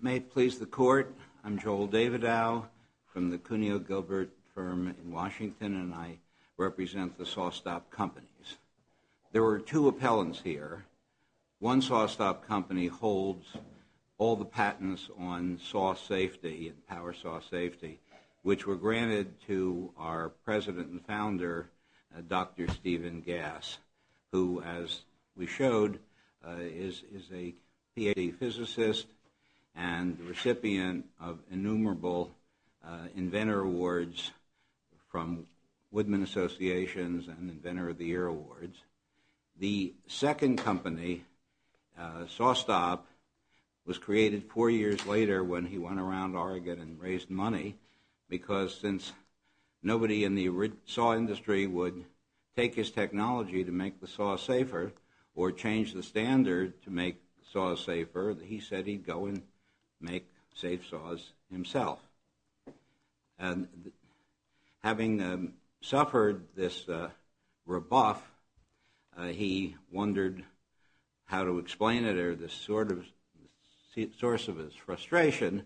May it please the Court, I'm Joel Davidoff from the Cuneo Gilbert firm in Washington, and I represent the SawStop Companies. There were two appellants here. One SawStop Company holds all the patents on saw safety and power saw safety, which were granted to our president and founder, Dr. Steven Gass, who, as we showed, is a PhD physicist and recipient of innumerable Inventor Awards from Woodman Associations and Inventor of the Year Awards. The second company, SawStop, was created four years later when he went around Oregon and raised money because since nobody in the saw industry would take his technology to make the saw safer or change the standard to make saws safer, he said he'd go and make safe saws himself. And having suffered this rebuff, he wondered how to explain it or the source of his frustration,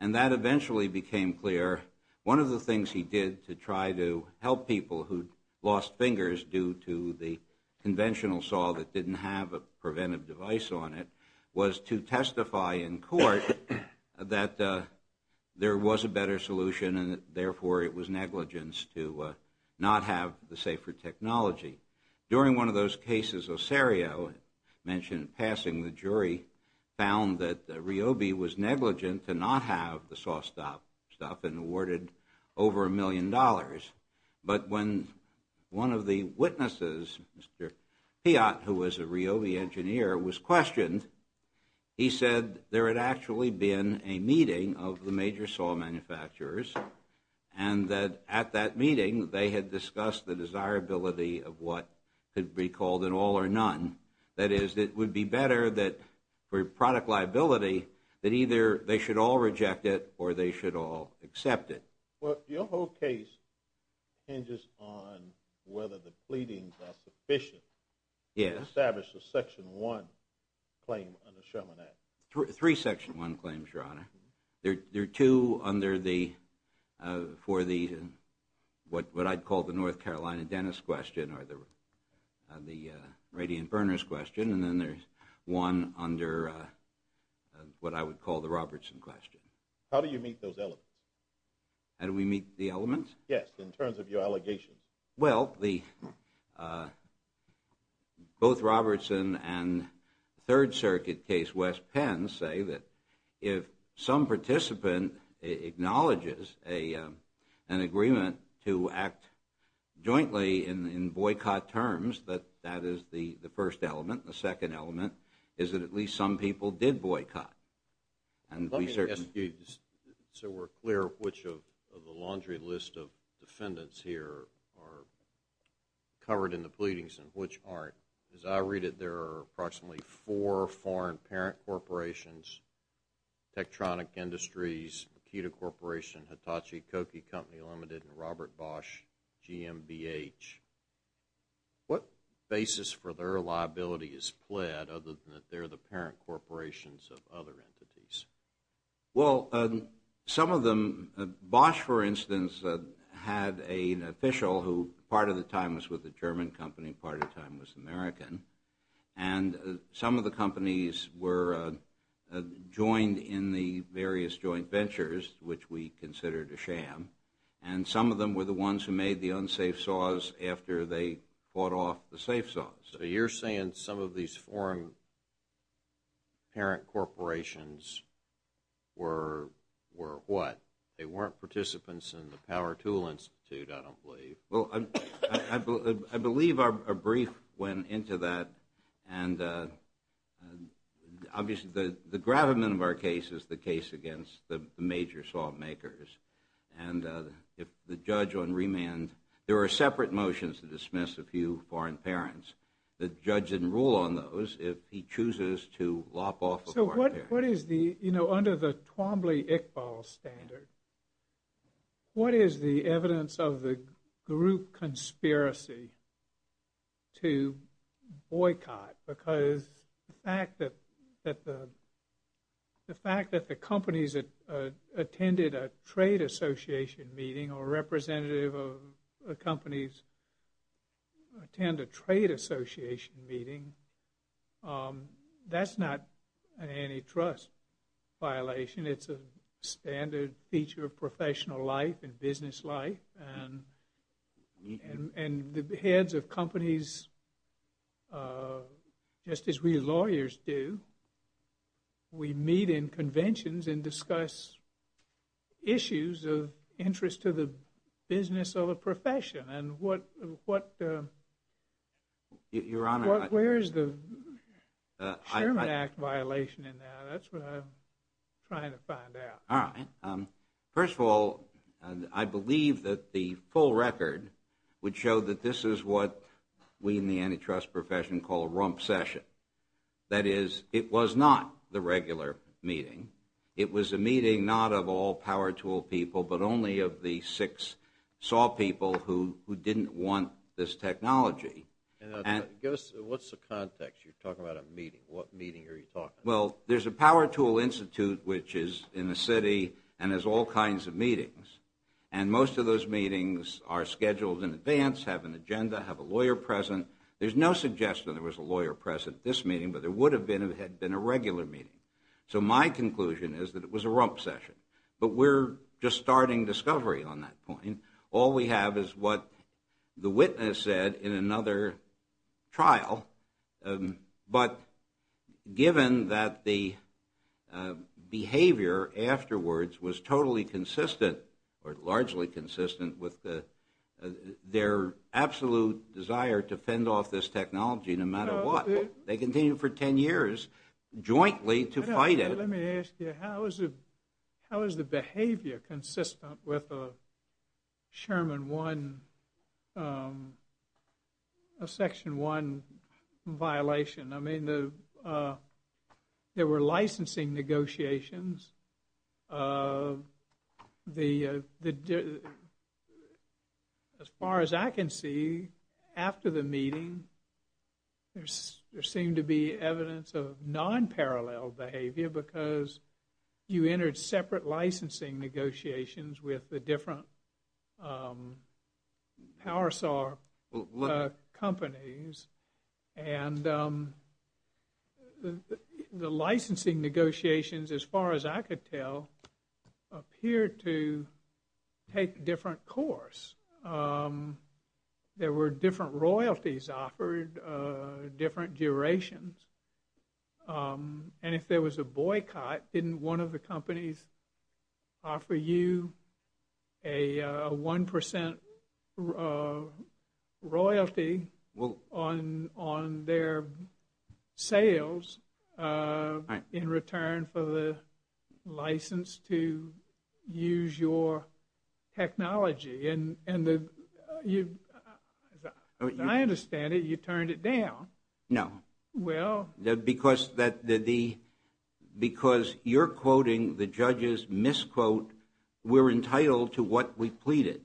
and that eventually became clear. One of the things he did to try to help people who lost fingers due to the conventional saw that didn't have a preventive device on it was to testify in court that there was a better solution and therefore it was negligence to not have the safer technology. During one of those cases Osario mentioned passing, the jury found that Ryobi was negligent to not have the SawStop stuff and awarded over a million dollars. But when one of the witnesses, Mr. Piat, who was a Ryobi engineer, was questioned, he said there had actually been a meeting of the major saw manufacturers and that at that meeting they had discussed the desirability of what could be called an all or none. That is, it would be better that for product liability that either they should all reject it or they should all accept it. Well, your whole case hinges on whether the pleadings are sufficient to establish a Section 1 claim under Sherman Act. Three Section 1 claims, Your Honor. There are two for what I'd call the North Carolina Dennis question or the Radiant Burners question and then there's one under what I would call the Robertson question. How do you meet those elements? How do we meet the elements? Yes, in terms of your allegations. Well, both Robertson and Third Circuit case West Penn say that if some participant acknowledges an agreement to act jointly in boycott terms, that that is the first element. The second element is that at least some people did boycott. Let me ask you so we're clear which of the laundry list of defendants here are covered in the pleadings and which aren't. As I read it, there are approximately four foreign parent corporations, Tektronik Industries, Makita Corporation, Hitachi, Koki Company Limited, and Robert Bosch, GMBH. What basis for their liability is pled other than that they're the parent corporations of other entities? Well, some of them, Bosch, for instance, had an official who part of the time was with a German company, part of the time was American, and some of the companies were joined in the various joint ventures, which we considered a sham, and some of them were the ones who made the unsafe saws after they bought off the safe saws. So you're saying some of these foreign parent corporations were what? They weren't participants in the Power Tool Institute, I don't believe. Well, I believe our brief went into that, and obviously the gravamen of our case is the case against the major sawmakers. And if the judge on remand, there are separate motions to dismiss a few foreign parents. The judge can rule on those if he chooses to lop off a foreign parent. So what is the, you know, under the Twombly-Iqbal standard, what is the evidence of the group conspiracy to boycott? Because the fact that the companies attended a trade association meeting or representative of the companies attend a trade association meeting, that's not an antitrust violation. It's a standard feature of professional life and business life. And the heads of companies, just as we lawyers do, we meet in conventions and discuss issues of interest to the business or the profession. And what, where is the Sherman Act violation in that? That's what I'm trying to find out. All right. First of all, I believe that the full record would show that this is what we in the antitrust profession call a rump session. That is, it was not the regular meeting. It was a meeting not of all power tool people, but only of the six saw people who didn't want this technology. Give us, what's the context? You're talking about a meeting. What meeting are you talking about? Well, there's a power tool institute which is in the city and has all kinds of meetings. And most of those meetings are scheduled in advance, have an agenda, have a lawyer present. There's no suggestion there was a lawyer present at this meeting, but there would have been if it had been a regular meeting. So my conclusion is that it was a rump session. But we're just starting discovery on that point. All we have is what the witness said in another trial. But given that the behavior afterwards was totally consistent or largely consistent with their absolute desire to fend off this technology no matter what, they continued for 10 years jointly to fight it. Let me ask you, how is the behavior consistent with a Sherman 1, a Section 1 violation? I mean, there were licensing negotiations. As far as I can see, after the meeting, there seemed to be evidence of non-parallel behavior because you entered separate licensing negotiations with the different power saw companies. And the licensing negotiations, as far as I could tell, appeared to take a different course. There were different royalties offered, different durations. And if there was a boycott, didn't one of the companies offer you a 1% royalty on their sales in return for the license to use your technology? And as I understand it, you turned it down. No. Because you're quoting the judge's misquote, we're entitled to what we pleaded.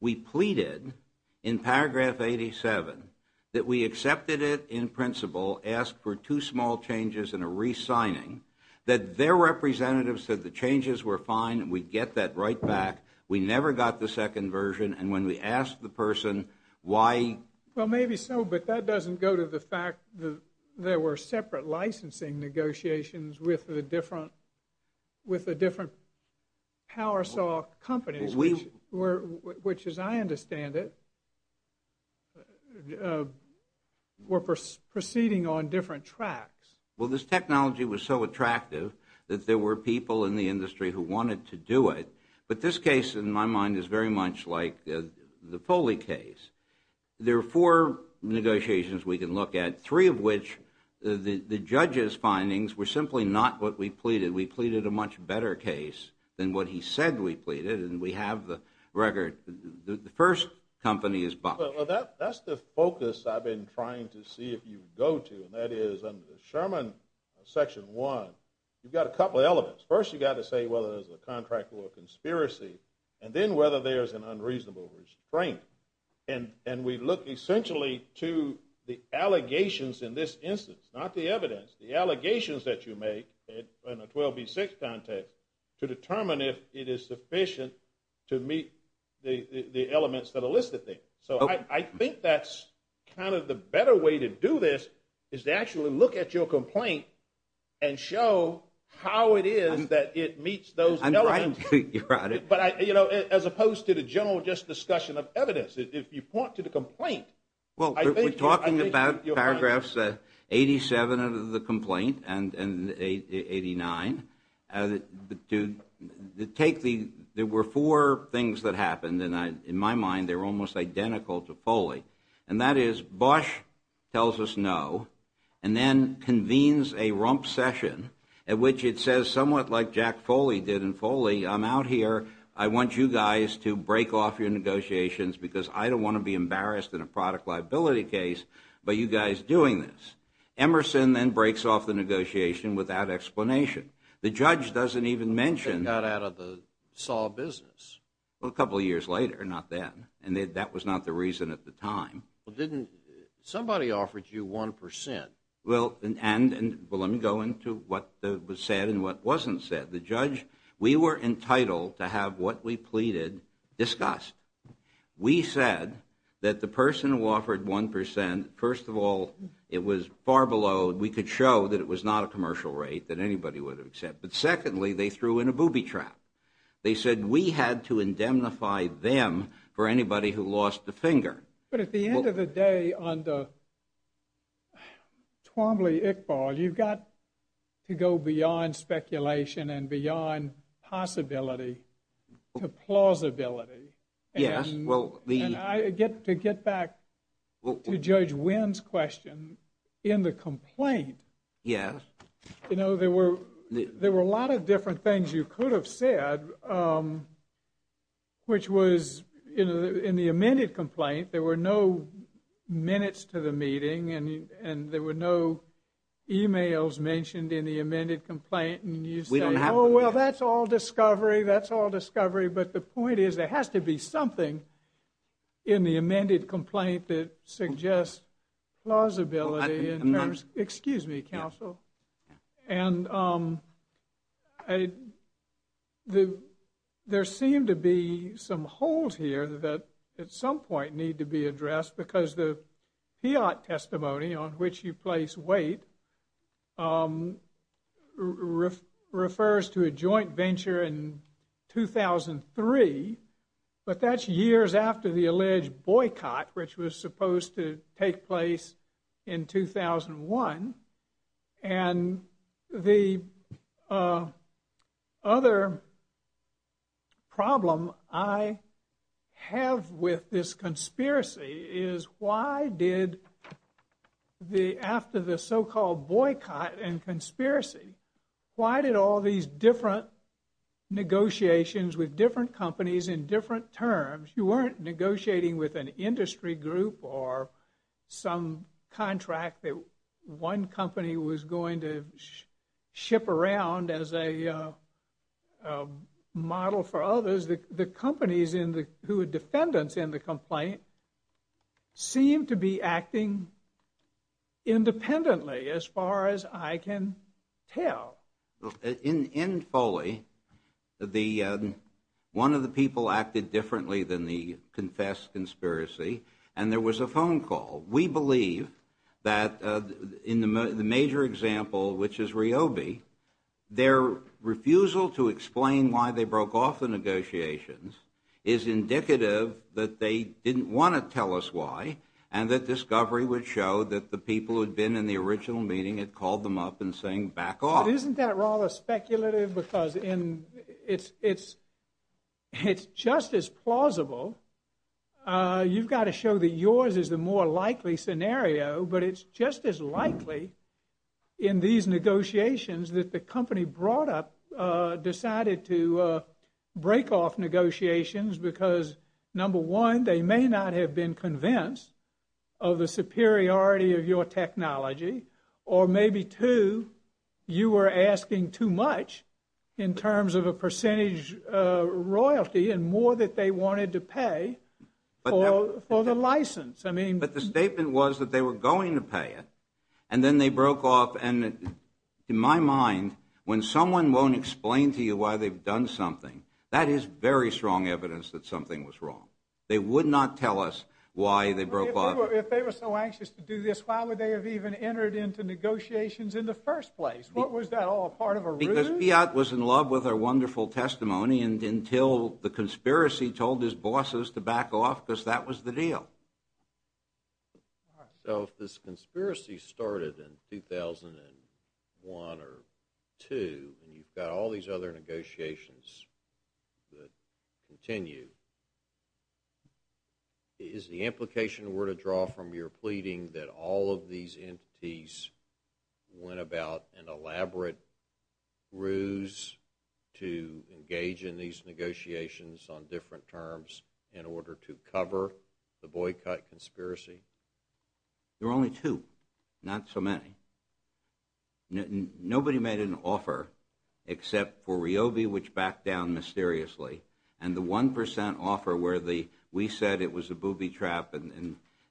We pleaded in paragraph 87 that we accepted it in principle, asked for two small changes and a re-signing, that their representatives said the changes were fine and we'd get that right back. We never got the second version. And when we asked the person why... Well, maybe so, but that doesn't go to the fact that there were separate licensing negotiations with the different power saw companies, which, as I understand it, were proceeding on different tracks. Well, this technology was so attractive that there were people in the industry who wanted to do it. But this case, in my mind, is very much like the Foley case. There are four negotiations we can look at, three of which the judge's findings were simply not what we pleaded. We pleaded a much better case than what he said we pleaded, and we have the record. The first company is Buck. Well, that's the focus I've been trying to see if you go to, and that is under the Sherman Section 1, you've got a couple of elements. First, you've got to say whether there's a contract or a conspiracy, and then whether there's an unreasonable restraint. And we look essentially to the allegations in this instance, not the evidence, the allegations that you make in a 12B6 context to determine if it is sufficient to meet the elements that are listed there. So I think that's kind of the better way to do this is to actually look at your complaint and show how it is that it meets those elements. But, you know, as opposed to the general just discussion of evidence, if you point to the complaint. Well, we're talking about paragraphs 87 of the complaint and 89. There were four things that happened, and in my mind they were almost identical to Foley, and that is Bosch tells us no and then convenes a rump session at which it says somewhat like Jack Foley did in Foley, I'm out here, I want you guys to break off your negotiations because I don't want to be embarrassed in a product liability case by you guys doing this. Emerson then breaks off the negotiation without explanation. The judge doesn't even mention. They got out of the saw business. Well, a couple of years later, not then, and that was not the reason at the time. Well, didn't somebody offer you 1%? Well, and let me go into what was said and what wasn't said. The judge, we were entitled to have what we pleaded discussed. We said that the person who offered 1%, first of all, it was far below, we could show that it was not a commercial rate that anybody would accept. But secondly, they threw in a booby trap. They said we had to indemnify them for anybody who lost a finger. But at the end of the day, under Twombly-Iqbal, you've got to go beyond speculation and beyond possibility to plausibility. Yes, well, the – And I get to get back to Judge Wynn's question in the complaint. Yes. You know, there were a lot of different things you could have said, which was, you know, in the amended complaint, there were no minutes to the meeting and there were no e-mails mentioned in the amended complaint. And you say, oh, well, that's all discovery, that's all discovery. But the point is there has to be something in the amended complaint that suggests plausibility. Excuse me, counsel. And there seemed to be some holes here that at some point need to be addressed because the fiat testimony on which you place weight refers to a joint venture in 2003, but that's years after the alleged boycott, which was supposed to take place in 2001. And the other problem I have with this conspiracy is why did the – after the so-called boycott and conspiracy, why did all these different negotiations with different companies in different terms? You weren't negotiating with an industry group or some contract that one company was going to ship around as a model for others. The companies who are defendants in the complaint seem to be acting independently as far as I can tell. In Foley, one of the people acted differently than the confessed conspiracy, and there was a phone call. We believe that in the major example, which is Ryobi, their refusal to explain why they broke off the negotiations is indicative that they didn't want to tell us why and that discovery would show that the people who had been in the original meeting had called them up and saying, back off. Isn't that rather speculative? Because it's just as plausible. You've got to show that yours is the more likely scenario, but it's just as likely in these negotiations that the company brought up decided to break off negotiations because, number one, they may not have been convinced of the superiority of your technology, or maybe, two, you were asking too much in terms of a percentage royalty and more that they wanted to pay for the license. But the statement was that they were going to pay it, and then they broke off. In my mind, when someone won't explain to you why they've done something, that is very strong evidence that something was wrong. They would not tell us why they broke off. If they were so anxious to do this, why would they have even entered into negotiations in the first place? Was that all part of a ruse? Because Fiat was in love with our wonderful testimony until the conspiracy told his bosses to back off because that was the deal. So if this conspiracy started in 2001 or 2002, and you've got all these other negotiations that continue, is the implication we're to draw from your pleading that all of these entities went about an elaborate ruse to engage in these negotiations on different terms in order to cover the boycott conspiracy? There were only two, not so many. Nobody made an offer except for Ryobi, which backed down mysteriously, and the 1% offer where we said it was a booby trap.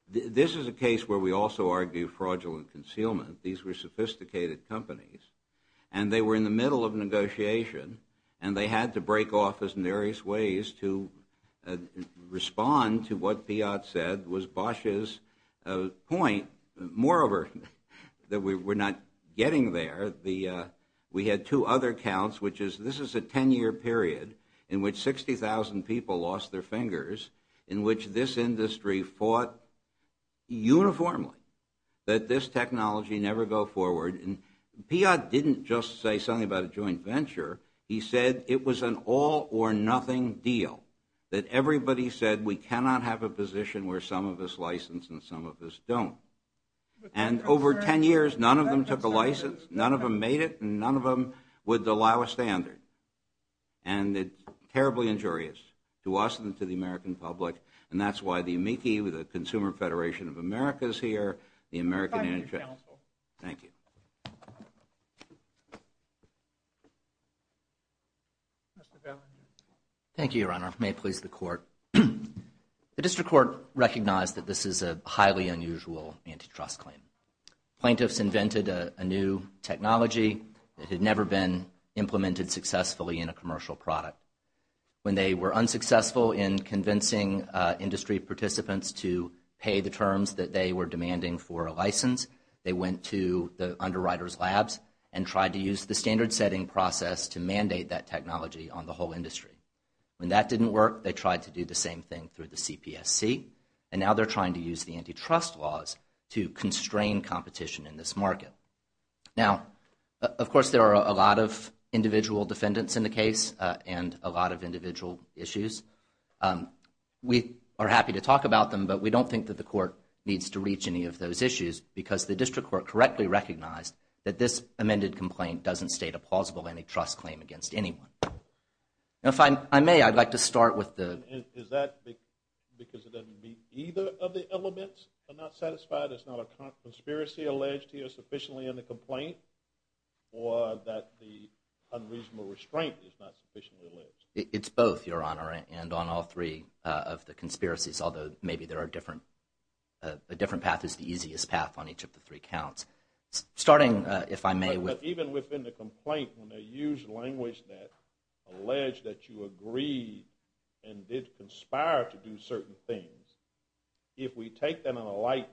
This is a case where we also argue fraudulent concealment. These were sophisticated companies, and they were in the middle of negotiation, and they had to break off in various ways to respond to what Fiat said was Bosch's point. Moreover, we're not getting there. We had two other counts, which is this is a 10-year period in which 60,000 people lost their fingers, in which this industry fought uniformly that this technology never go forward. Fiat didn't just say something about a joint venture. He said it was an all-or-nothing deal, that everybody said we cannot have a position where some of us license and some of us don't. And over 10 years, none of them took a license, none of them made it, and none of them would allow a standard. And it's terribly injurious to us and to the American public, and that's why the AMICI, the Consumer Federation of America is here, the American... Thank you. Thank you, Your Honor. May it please the Court. The District Court recognized that this is a highly unusual antitrust claim. Plaintiffs invented a new technology that had never been implemented successfully in a commercial product. When they were unsuccessful in convincing industry participants to pay the terms that they were demanding for a license, they went to the underwriters' labs and tried to use the standard-setting process to mandate that technology on the whole industry. When that didn't work, they tried to do the same thing through the CPSC, and now they're trying to use the antitrust laws to constrain competition in this market. Now, of course, there are a lot of individual defendants in the case and a lot of individual issues. We are happy to talk about them, but we don't think that the Court needs to reach any of those issues because the District Court correctly recognized that this amended complaint doesn't state a plausible antitrust claim against anyone. If I may, I'd like to start with the... Is that because it doesn't meet either of the elements, are not satisfied, it's not a conspiracy alleged here sufficiently in the complaint, or that the unreasonable restraint is not sufficiently alleged? It's both, Your Honor, and on all three of the conspiracies, although maybe there are different... A different path is the easiest path on each of the three counts. Starting, if I may, with... But even within the complaint, when they use language that... Alleged that you agreed and did conspire to do certain things, if we take that on a light...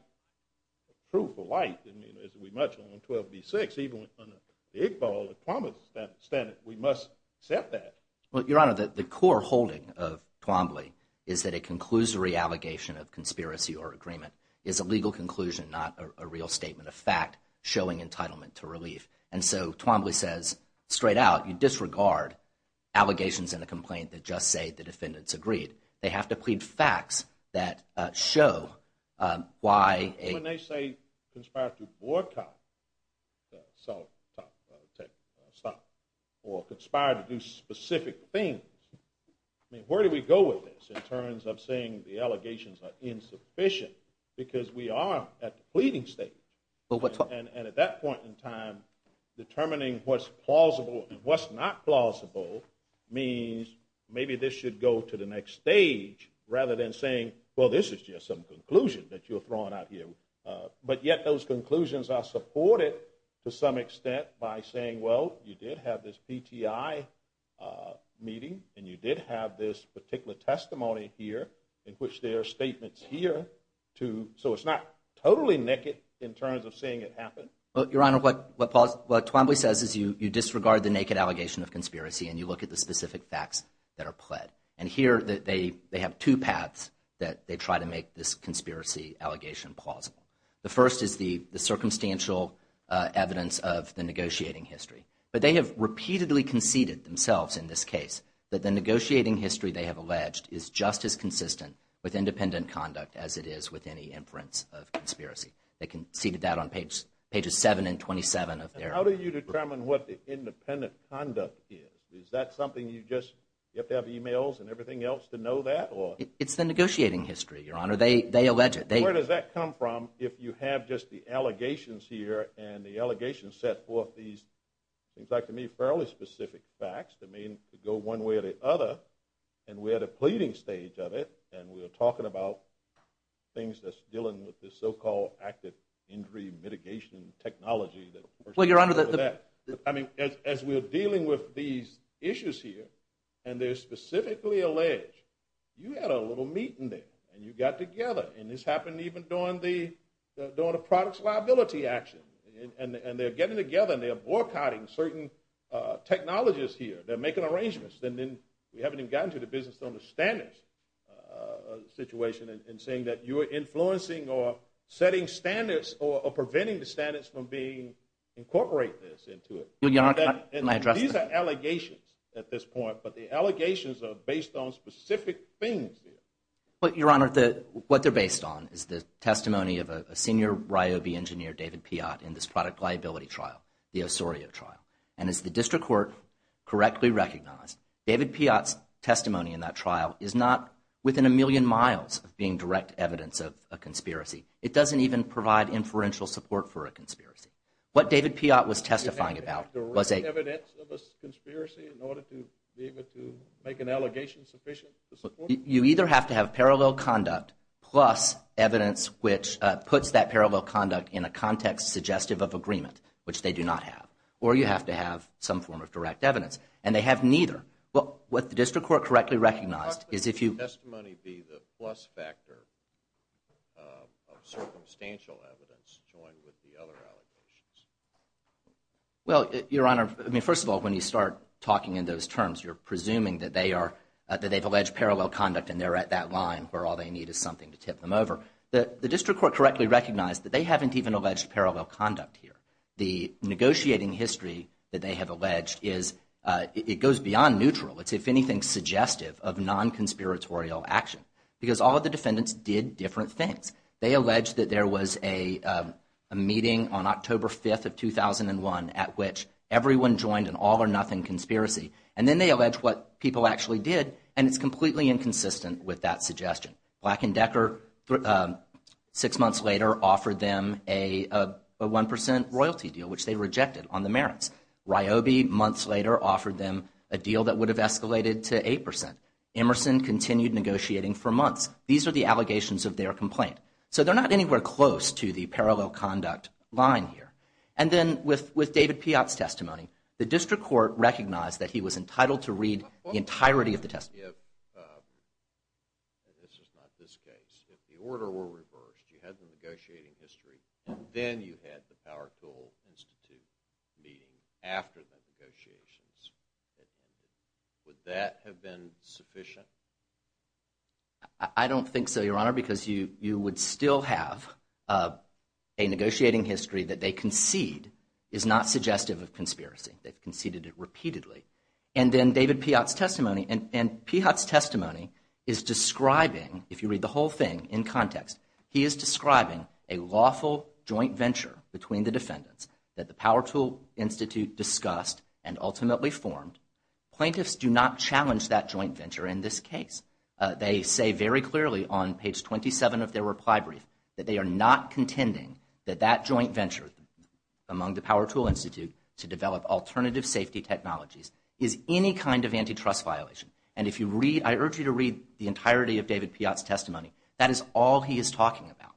Proof of light, as we mentioned on 12b-6, even on the Iqbal, the Twombly statement, we must accept that. Well, Your Honor, the core holding of Twombly is that it concludes the reallegation of conspiracy or agreement. It's a legal conclusion, not a real statement of fact showing entitlement to relief. And so Twombly says, straight out, you disregard allegations in the complaint that just say the defendants agreed. They have to plead facts that show why a... When they say conspired to boycott the South... Or conspired to do specific things, I mean, where do we go with this in terms of saying the allegations are insufficient? Because we are at the pleading stage. And at that point in time, determining what's plausible and what's not plausible means maybe this should go to the next stage rather than saying, well, this is just some conclusion that you're throwing out here. But yet those conclusions are supported to some extent by saying, well, you did have this PTI meeting and you did have this particular testimony here in which there are statements here to... Your Honor, what Twombly says is you disregard the naked allegation of conspiracy and you look at the specific facts that are pled. And here they have two paths that they try to make this conspiracy allegation plausible. The first is the circumstantial evidence of the negotiating history. But they have repeatedly conceded themselves in this case that the negotiating history they have alleged is just as consistent with independent conduct as it is with any inference of conspiracy. They conceded that on pages 7 and 27 of their... How do you determine what the independent conduct is? Is that something you just... You have to have emails and everything else to know that? It's the negotiating history, Your Honor. They allege it. Where does that come from if you have just the allegations here and the allegations set forth these things that to me are fairly specific facts that mean to go one way or the other and we're at a pleading stage of it and we're talking about things that's dealing with the so-called active injury mitigation technology that... Well, Your Honor, the... I mean, as we're dealing with these issues here and they're specifically alleged, you had a little meeting there and you got together and this happened even during the... during the products liability action and they're getting together and they're boycotting certain technologies here. They're making arrangements and then we haven't even gotten to the business to understand this situation and saying that you're influencing or setting standards or preventing the standards from being incorporated into it. Well, Your Honor, can I address that? These are allegations at this point but the allegations are based on specific things here. But, Your Honor, what they're based on is the testimony of a senior Ryobi engineer, David Piott, in this product liability trial, the Osorio trial, and as the district court correctly recognized, David Piott's testimony in that trial is not within a million miles of being direct evidence of a conspiracy. It doesn't even provide inferential support for a conspiracy. What David Piott was testifying about was a... Direct evidence of a conspiracy in order to be able to make an allegation sufficient to support... You either have to have parallel conduct plus evidence which puts that parallel conduct in a context suggestive of agreement, which they do not have, or you have to have some form of direct evidence and they have neither. What the district court correctly recognized is if you... What may be the plus factor of circumstantial evidence joined with the other allegations? Well, Your Honor, I mean, first of all, when you start talking in those terms, you're presuming that they are... That they've alleged parallel conduct and they're at that line where all they need is something to tip them over. The district court correctly recognized that they haven't even alleged parallel conduct here. The negotiating history that they have alleged is... It goes beyond neutral. It's, if anything, suggestive of non-conspiratorial action because all of the defendants did different things. They alleged that there was a meeting on October 5th of 2001 at which everyone joined an all-or-nothing conspiracy and then they allege what people actually did and it's completely inconsistent with that suggestion. Black & Decker, six months later, offered them a 1% royalty deal, which they rejected on the merits. Ryobi, months later, offered them a deal that would have escalated to 8%. Emerson continued negotiating for months. These are the allegations of their complaint. So they're not anywhere close to the parallel conduct line here. And then with David Piott's testimony, the district court recognized that he was entitled to read the entirety of the testimony. This is not this case. If the order were reversed, you had the negotiating history and then you had the Power Tool Institute meeting after the negotiations had ended. Would that have been sufficient? I don't think so, Your Honor, because you would still have a negotiating history that they concede is not suggestive of conspiracy. They've conceded it repeatedly. And then David Piott's testimony, and Piott's testimony is describing, if you read the whole thing in context, he is describing a lawful joint venture between the defendants that the Power Tool Institute discussed and ultimately formed. Plaintiffs do not challenge that joint venture in this case. They say very clearly on page 27 of their reply brief that they are not contending that that joint venture among the Power Tool Institute to develop alternative safety technologies is any kind of antitrust violation. And I urge you to read the entirety of David Piott's testimony. That is all he is talking about.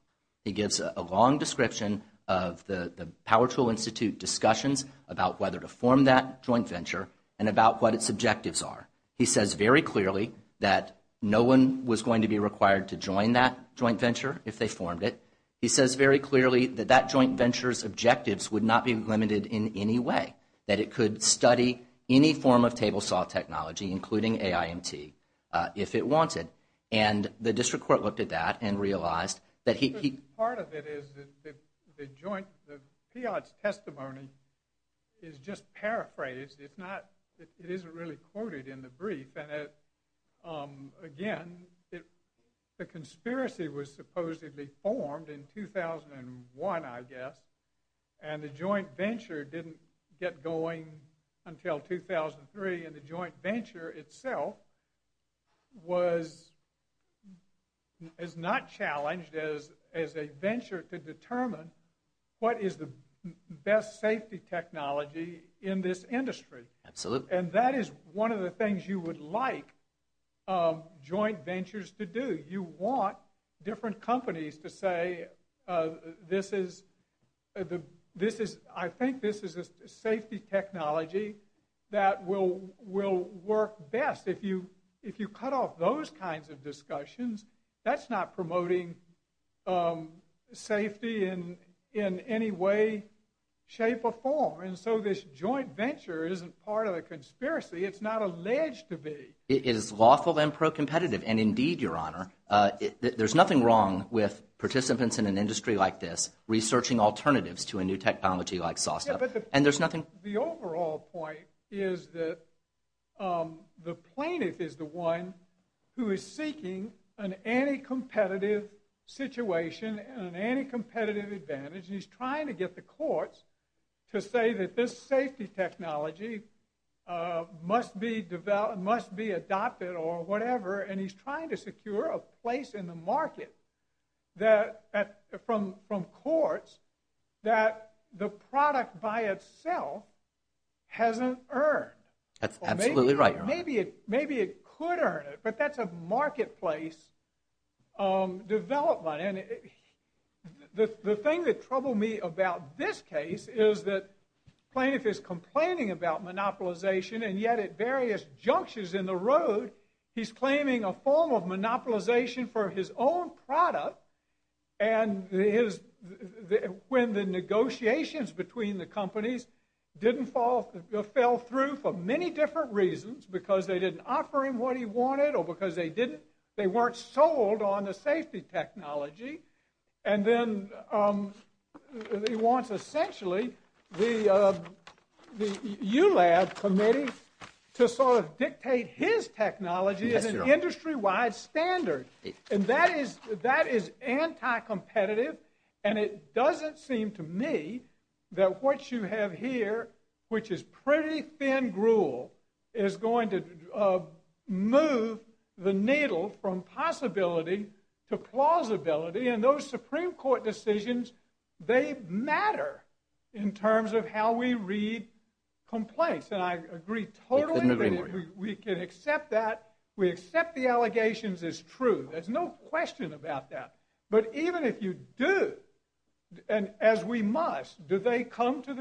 He gives a long description of the Power Tool Institute discussions about whether to form that joint venture and about what its objectives are. He says very clearly that no one was going to be required to join that joint venture if they formed it. He says very clearly that that joint venture's objectives would not be limited in any way, that it could study any form of table saw technology, including AIMT, if it wanted. And the district court looked at that and realized that he... Part of it is that the joint... Piott's testimony is just paraphrased. It's not... It isn't really quoted in the brief. And, again, the conspiracy was supposedly formed in 2001, I guess, and the joint venture didn't get going until 2003. And the joint venture itself was... ...designed as a venture to determine what is the best safety technology in this industry. Absolutely. And that is one of the things you would like joint ventures to do. You want different companies to say, this is... I think this is a safety technology that will work best. If you cut off those kinds of discussions, that's not promoting safety in any way, shape, or form. And so this joint venture isn't part of the conspiracy. It's not alleged to be. It is lawful and pro-competitive. And, indeed, Your Honor, there's nothing wrong with participants in an industry like this researching alternatives to a new technology like saw stuff. And there's nothing... The overall point is that the plaintiff is the one who is seeking an anti-competitive situation and an anti-competitive advantage, and he's trying to get the courts to say that this safety technology must be adopted or whatever, and he's trying to secure a place in the market from courts that the product by itself hasn't earned. That's absolutely right, Your Honor. Maybe it could earn it, but that's a marketplace development. The thing that troubled me about this case is that the plaintiff is complaining about monopolization, and yet at various junctures in the road, he's claiming a form of monopolization for his own product, and when the negotiations between the companies didn't fall through for many different reasons, because they didn't offer him what he wanted or because they weren't sold on the safety technology, and then he wants, essentially, the U-Lab committee to sort of dictate his technology as an industry-wide standard. And that is anti-competitive, and it doesn't seem to me that what you have here, which is pretty thin gruel, is going to move the needle from possibility to plausibility, and those Supreme Court decisions, they matter in terms of how we read complaints, and I agree totally that we can accept that. We accept the allegations as true. There's no question about that. But even if you do, and as we must, do they come to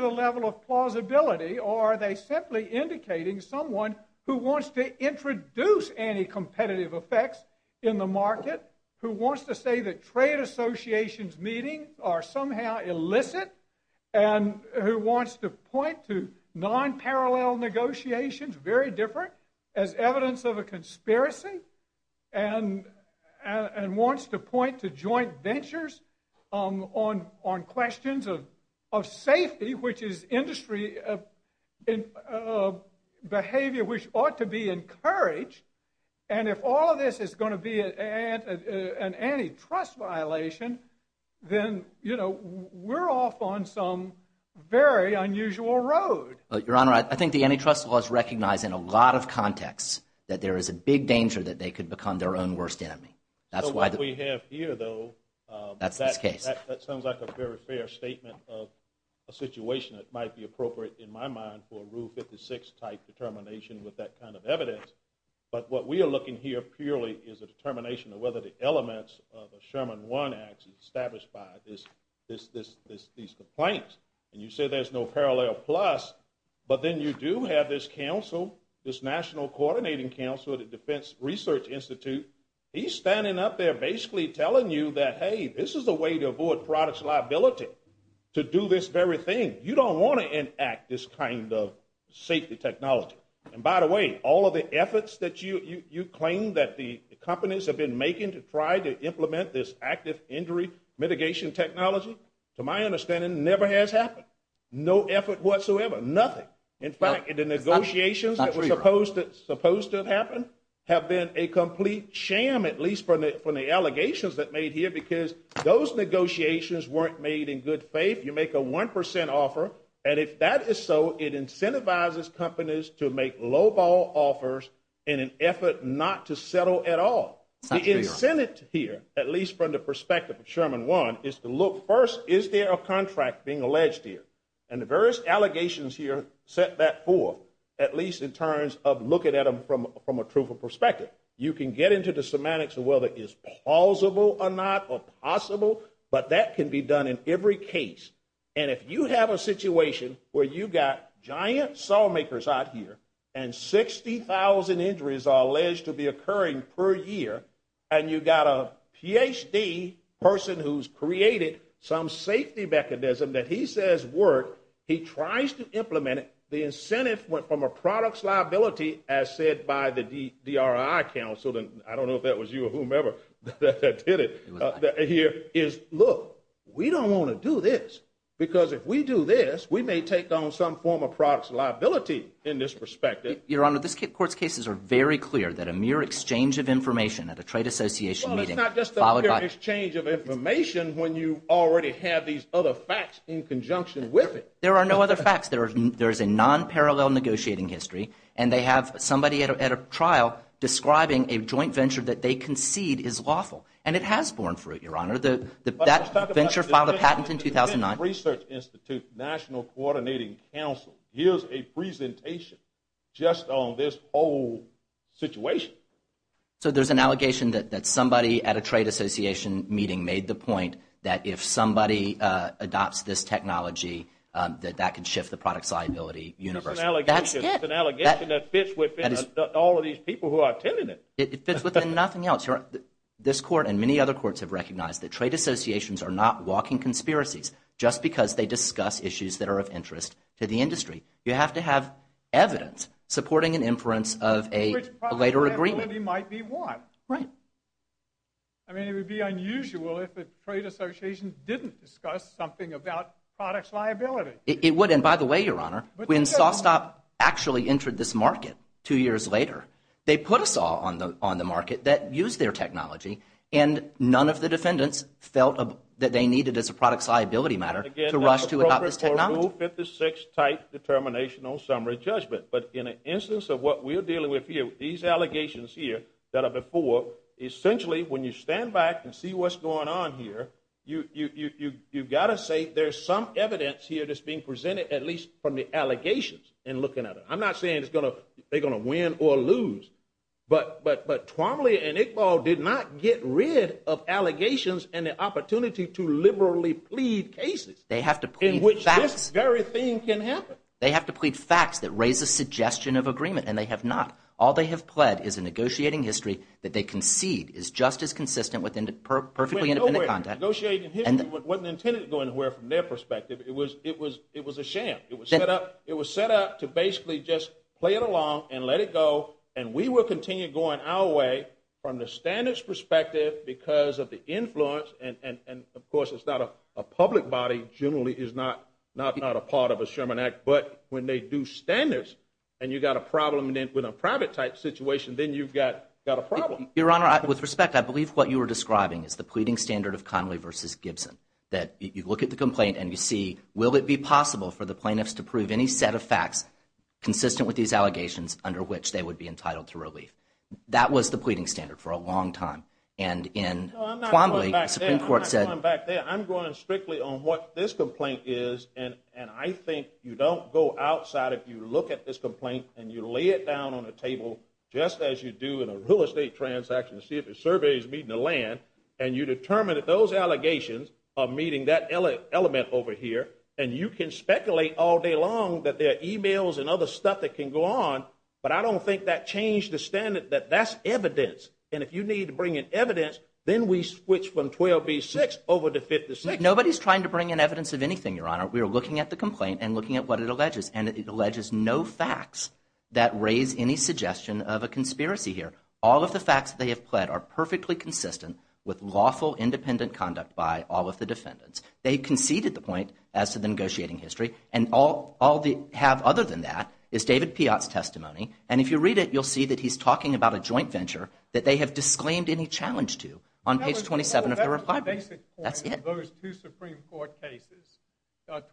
the level of plausibility, or are they simply indicating someone who wants to introduce anti-competitive effects in the market, who wants to say that trade associations meeting are somehow illicit, and who wants to point to non-parallel negotiations, very different, as evidence of a conspiracy, and wants to point to joint ventures on questions of safety, which is industry behavior which ought to be encouraged, and if all of this is going to be an antitrust violation, then we're off on some very unusual road. Your Honor, I think the antitrust law is recognized in a lot of contexts, that there is a big danger that they could become their own worst enemy. So what we have here, though, that sounds like a very fair statement of a situation that might be appropriate in my mind for a Rule 56 type determination with that kind of evidence, but what we are looking here purely is a determination of whether the elements of a Sherman One Act is established by these complaints. And you say there's no parallel plus, but then you do have this national coordinating council at the Defense Research Institute. He's standing up there basically telling you that, hey, this is a way to avoid products liability to do this very thing. You don't want to enact this kind of safety technology. And by the way, all of the efforts that you claim that the companies have been making to try to implement this active injury mitigation technology, to my understanding, never has happened. No effort whatsoever, nothing. In fact, the negotiations that were supposed to have happened have been a complete sham, at least from the allegations that made here, because those negotiations weren't made in good faith. You make a 1% offer, and if that is so, it incentivizes companies to make lowball offers in an effort not to settle at all. The incentive here, at least from the perspective of Sherman One, is to look first, is there a contract being alleged here? And the various allegations here set that forth, at least in terms of looking at them from a truthful perspective. You can get into the semantics of whether it is plausible or not, or possible, but that can be done in every case. And if you have a situation where you've got giant sawmakers out here and 60,000 injuries are alleged to be occurring per year, and you've got a PhD person who's created some safety mechanism that he says works, he tries to implement it, the incentive from a product's liability, as said by the DRI counsel, and I don't know if that was you or whomever that did it here, is, look, we don't want to do this, because if we do this, we may take on some form of product's liability in this perspective. Your Honor, this Court's cases are very clear that a mere exchange of information at a trade association meeting, Well, it's not just a mere exchange of information when you already have these other facts in conjunction with it. There are no other facts. There is a non-parallel negotiating history, and they have somebody at a trial describing a joint venture that they concede is lawful, and it has borne fruit, Your Honor. That venture filed a patent in 2009. The Venture Research Institute National Coordinating Council gives a presentation just on this whole situation. So there's an allegation that somebody at a trade association meeting made the point that if somebody adopts this technology, that that could shift the product's liability universally. That's it. It's an allegation that fits within all of these people who are attending it. It fits within nothing else, Your Honor. This Court and many other courts have recognized that trade associations are not walking conspiracies just because they discuss issues that are of interest to the industry. You have to have evidence supporting an inference of a later agreement. Which product liability might be what? Right. I mean, it would be unusual if a trade association didn't discuss something about product's liability. It would, and by the way, Your Honor, when SawStop actually entered this market two years later, they put a saw on the market that used their technology, and none of the defendants felt that they needed as a product's liability matter to rush to adopt this technology. Again, that's appropriate for Rule 56 type determinational summary judgment. But in an instance of what we're dealing with here, these allegations here that are before, essentially when you stand back and see what's going on here, you've got to say there's some evidence here that's being presented, at least from the allegations in looking at it. I'm not saying they're going to win or lose, but Twombly and Iqbal did not get rid of allegations and the opportunity to liberally plead cases. They have to plead facts. In which this very thing can happen. They have to plead facts that raise a suggestion of agreement, and they have not. All they have pled is a negotiating history that they concede is just as consistent with perfectly independent content. Negotiating history wasn't intended to go anywhere from their perspective. It was a sham. It was set up to basically just play it along and let it go, and we will continue going our way from the standards perspective because of the influence and, of course, it's not a public body generally is not a part of a Sherman Act, but when they do standards and you've got a problem with a private type situation, then you've got a problem. Your Honor, with respect, I believe what you were describing is the pleading standard of Connolly versus Gibson. That you look at the complaint and you see, will it be possible for the plaintiffs to prove any set of facts consistent with these allegations under which they would be entitled to relief? That was the pleading standard for a long time, and in Connolly, the Supreme Court said. I'm not going back there. I'm going strictly on what this complaint is, and I think you don't go outside if you look at this complaint and you lay it down on a table just as you do in a real estate transaction to see if a survey is meeting the land, and you determine that those allegations are meeting that element over here, and you can speculate all day long that there are e-mails and other stuff that can go on, but I don't think that changed the standard that that's evidence, and if you need to bring in evidence, then we switch from 12B6 over to 56. Nobody's trying to bring in evidence of anything, Your Honor. We are looking at the complaint and looking at what it alleges, and it alleges no facts that raise any suggestion of a conspiracy here. All of the facts that they have pled are perfectly consistent with lawful independent conduct by all of the defendants. They conceded the point as to the negotiating history, and all they have other than that is David Piott's testimony, and if you read it, you'll see that he's talking about a joint venture that they have disclaimed any challenge to on page 27 of their reply. That's the basic point of those two Supreme Court cases,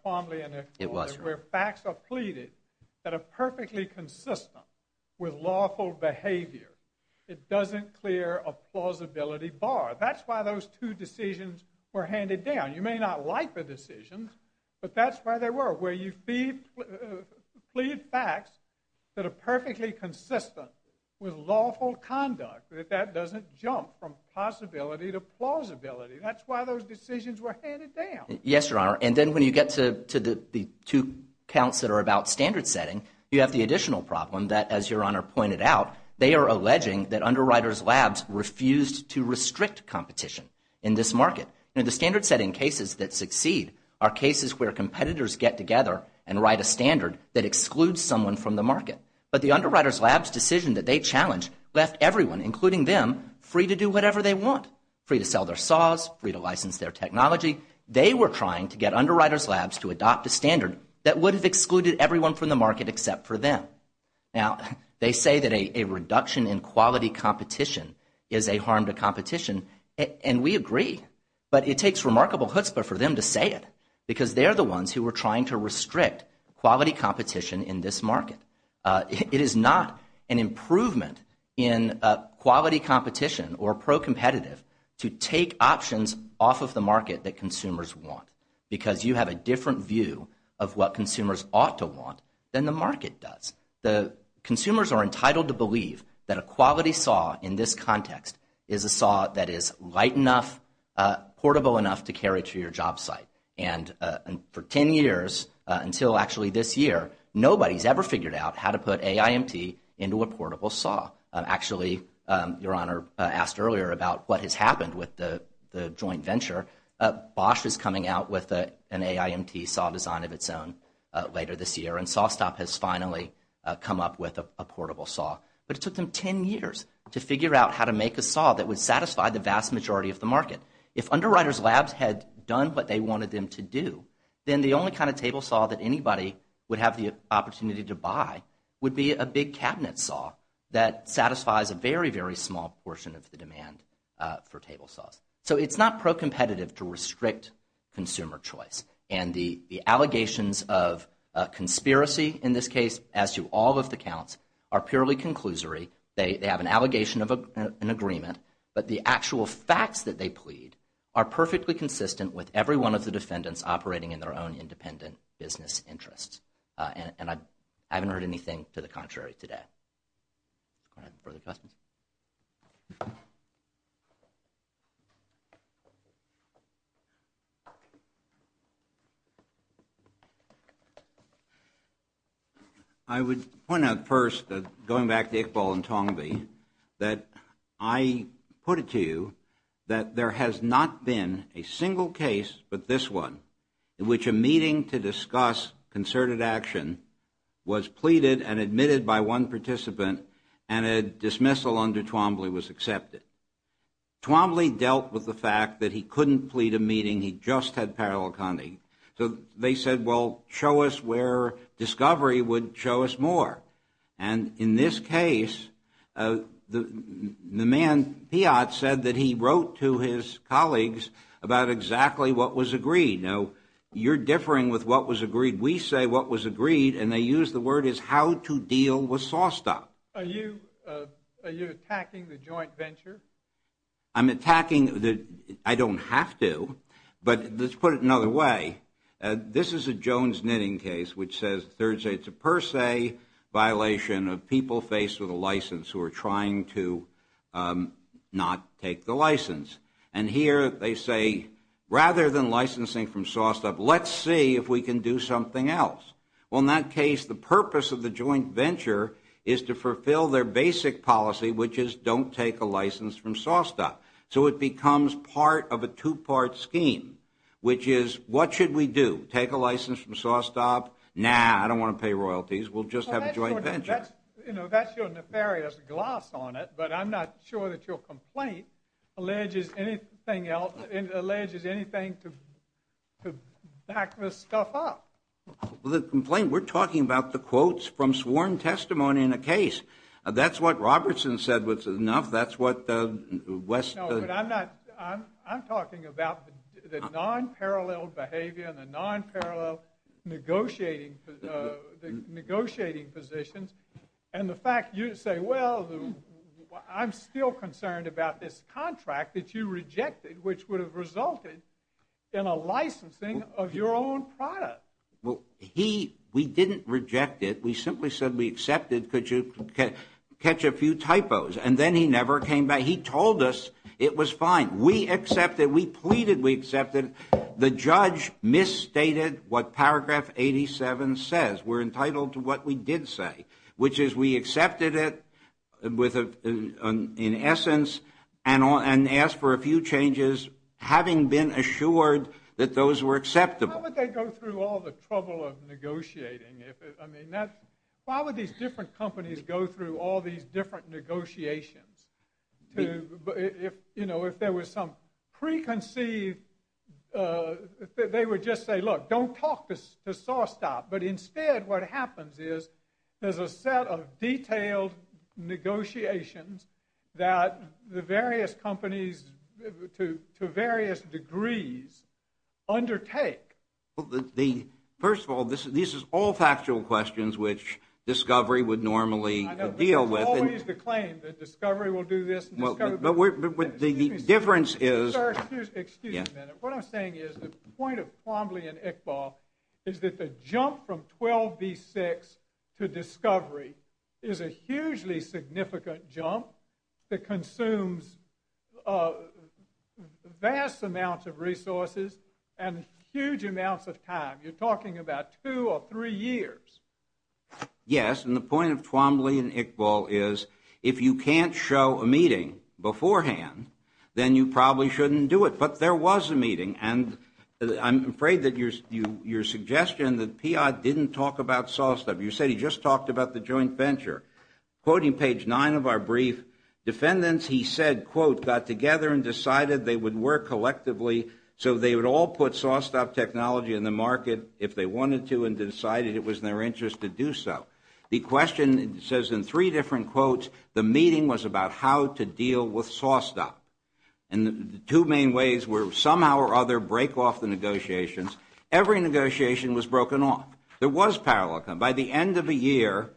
Twombly and Eckford, where facts are pleaded that are perfectly consistent with lawful behavior. It doesn't clear a plausibility bar. That's why those two decisions were handed down. You may not like the decisions, but that's why they were, where you plead facts that are perfectly consistent with lawful conduct. That doesn't jump from possibility to plausibility. That's why those decisions were handed down. Yes, Your Honor, and then when you get to the two counts that are about standard setting, you have the additional problem that, as Your Honor pointed out, they are alleging that Underwriters Labs refused to restrict competition in this market. The standard setting cases that succeed are cases where competitors get together and write a standard that excludes someone from the market, but the Underwriters Labs decision that they challenged left everyone, including them, free to do whatever they want, free to sell their saws, free to license their technology. They were trying to get Underwriters Labs to adopt a standard that would have excluded everyone from the market except for them. Now, they say that a reduction in quality competition is a harm to competition, and we agree, but it takes remarkable chutzpah for them to say it because they're the ones who were trying to restrict quality competition in this market. It is not an improvement in quality competition or pro-competitive to take options off of the market that consumers want because you have a different view of what consumers ought to want than the market does. The consumers are entitled to believe that a quality saw in this context is a saw that is light enough, portable enough to carry to your job site. And for 10 years until actually this year, nobody's ever figured out how to put AIMT into a portable saw. Actually, Your Honor asked earlier about what has happened with the joint venture. Bosch is coming out with an AIMT saw design of its own later this year, and SawStop has finally come up with a portable saw. But it took them 10 years to figure out how to make a saw that would satisfy the vast majority of the market. If Underwriters Labs had done what they wanted them to do, then the only kind of table saw that anybody would have the opportunity to buy would be a big cabinet saw that satisfies a very, very small portion of the demand for table saws. So it's not pro-competitive to restrict consumer choice, and the allegations of conspiracy in this case, as to all of the counts, are purely conclusory. They have an allegation of an agreement, but the actual facts that they plead are perfectly consistent with every one of the defendants operating in their own independent business interests. And I haven't heard anything to the contrary today. Go ahead. Further questions? I would point out first, going back to Iqbal and Tongvi, that I put it to you that there has not been a single case but this one in which a meeting to discuss concerted action was pleaded and admitted by one participant and a dismissal was made. Parallel under Twombly was accepted. Twombly dealt with the fact that he couldn't plead a meeting. He just had parallel counting. So they said, well, show us where discovery would show us more. And in this case, the man, Piat, said that he wrote to his colleagues about exactly what was agreed. Now, you're differing with what was agreed. We say what was agreed, and they use the word is how to deal with saw stop. Are you attacking the joint venture? I'm attacking the – I don't have to, but let's put it another way. This is a Jones knitting case, which says Thursday, it's a per se violation of people faced with a license who are trying to not take the license. And here they say, rather than licensing from saw stop, let's see if we can do something else. Well, in that case, the purpose of the joint venture is to fulfill their basic policy, which is don't take a license from saw stop. So it becomes part of a two-part scheme, which is what should we do? Take a license from saw stop? Nah, I don't want to pay royalties. We'll just have a joint venture. That's your nefarious gloss on it, but I'm not sure that your complaint alleges anything else, alleges anything to back this stuff up. Well, the complaint, we're talking about the quotes from sworn testimony in a case. That's what Robertson said was enough. That's what West – No, but I'm not – I'm talking about the non-parallel behavior and the non-parallel negotiating positions, and the fact you say, well, I'm still concerned about this contract that you rejected, which would have resulted in a licensing of your own product. Well, he – we didn't reject it. We simply said we accepted, could you catch a few typos? And then he never came back. He told us it was fine. We accepted. We pleaded we accepted. The judge misstated what paragraph 87 says. We're entitled to what we did say, which is we accepted it in essence and asked for a few changes, having been assured that those were acceptable. How would they go through all the trouble of negotiating? I mean, why would these different companies go through all these different negotiations? You know, if there was some preconceived – they would just say, look, don't talk to SawStop. But instead what happens is there's a set of detailed negotiations that the various companies, to various degrees, undertake. First of all, these are all factual questions which Discovery would normally deal with. It's always the claim that Discovery will do this and Discovery will do that. But the difference is – Sir, excuse me a minute. What I'm saying is the point of Twombly and Iqbal is that the jump from 12B6 to Discovery is a hugely significant jump that consumes vast amounts of resources and huge amounts of time. You're talking about two or three years. Yes, and the point of Twombly and Iqbal is if you can't show a meeting beforehand, then you probably shouldn't do it. But there was a meeting, and I'm afraid that your suggestion that PI didn't talk about SawStop – you said he just talked about the joint venture. Quoting page 9 of our brief, defendants, he said, quote, got together and decided they would work collectively so they would all put SawStop technology in the market if they wanted to and decided it was in their interest to do so. The question says in three different quotes, the meeting was about how to deal with SawStop. And the two main ways were somehow or other break off the negotiations. Every negotiation was broken off. There was parallel. By the end of the year,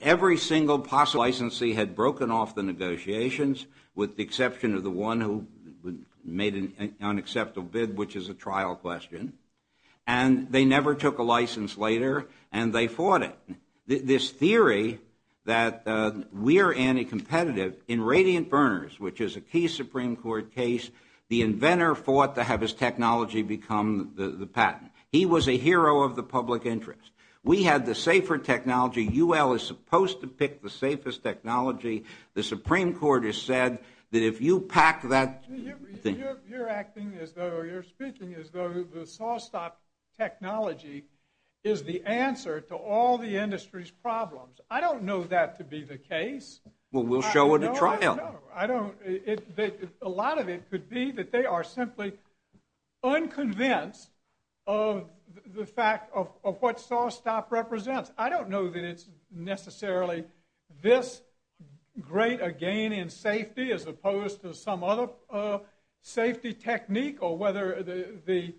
every single possible licensee had broken off the negotiations with the exception of the one who made an unacceptable bid, which is a trial question. And they never took a license later, and they fought it. This theory that we're anti-competitive in Radiant Burners, which is a key Supreme Court case, the inventor fought to have his technology become the patent. He was a hero of the public interest. We had the safer technology. UL is supposed to pick the safest technology. The Supreme Court has said that if you pack that thing. You're acting as though, you're speaking as though the SawStop technology is the answer to all the industry's problems. I don't know that to be the case. Well, we'll show it at trial. No, I don't. A lot of it could be that they are simply unconvinced of the fact of what SawStop represents. I don't know that it's necessarily this great a gain in safety as opposed to some other safety technique or whether the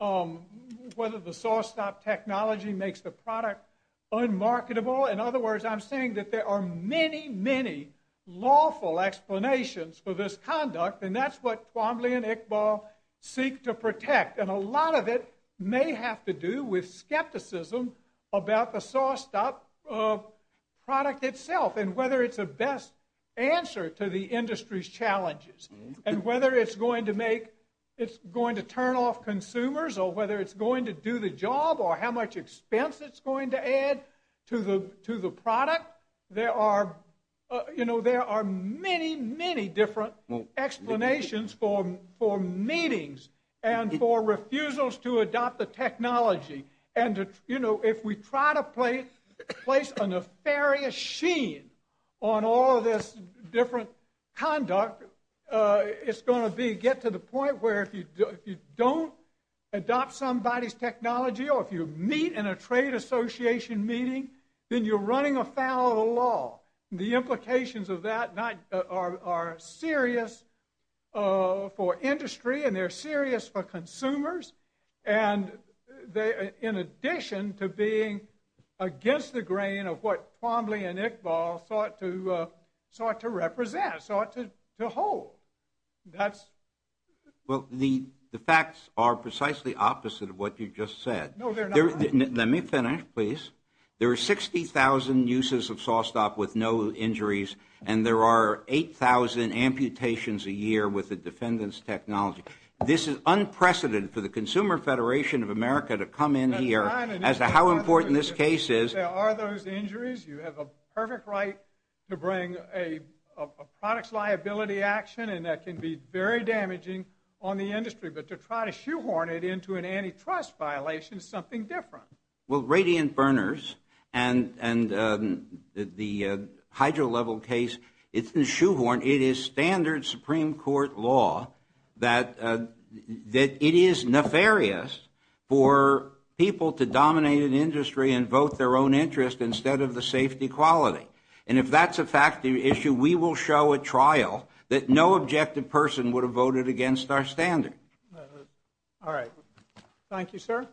SawStop technology makes the product unmarketable. In other words, I'm saying that there are many, many lawful explanations for this conduct, and that's what Twombly and Iqbal seek to protect. And a lot of it may have to do with skepticism about the SawStop product itself and whether it's a best answer to the industry's challenges and whether it's going to turn off consumers or whether it's going to do the job or how much expense it's going to add to the product. But there are many, many different explanations for meetings and for refusals to adopt the technology. And if we try to place a nefarious sheen on all of this different conduct, it's going to get to the point where if you don't adopt somebody's technology or if you meet in a trade association meeting, then you're running afoul of the law. The implications of that are serious for industry and they're serious for consumers. And in addition to being against the grain of what Twombly and Iqbal sought to represent, sought to hold. Well, the facts are precisely opposite of what you just said. No, they're not. Let me finish, please. There are 60,000 uses of SawStop with no injuries and there are 8,000 amputations a year with the defendant's technology. This is unprecedented for the Consumer Federation of America to come in here as to how important this case is. There are those injuries. You have a perfect right to bring a products liability action and that can be very damaging on the industry. But to try to shoehorn it into an antitrust violation is something different. Well, radiant burners and the hydro level case, it's been shoehorned. It is standard Supreme Court law that it is nefarious for people to dominate an industry and vote their own interest instead of the safety quality. And if that's a fact of the issue, we will show at trial that no objective person would have voted against our standard. Thank you, sir.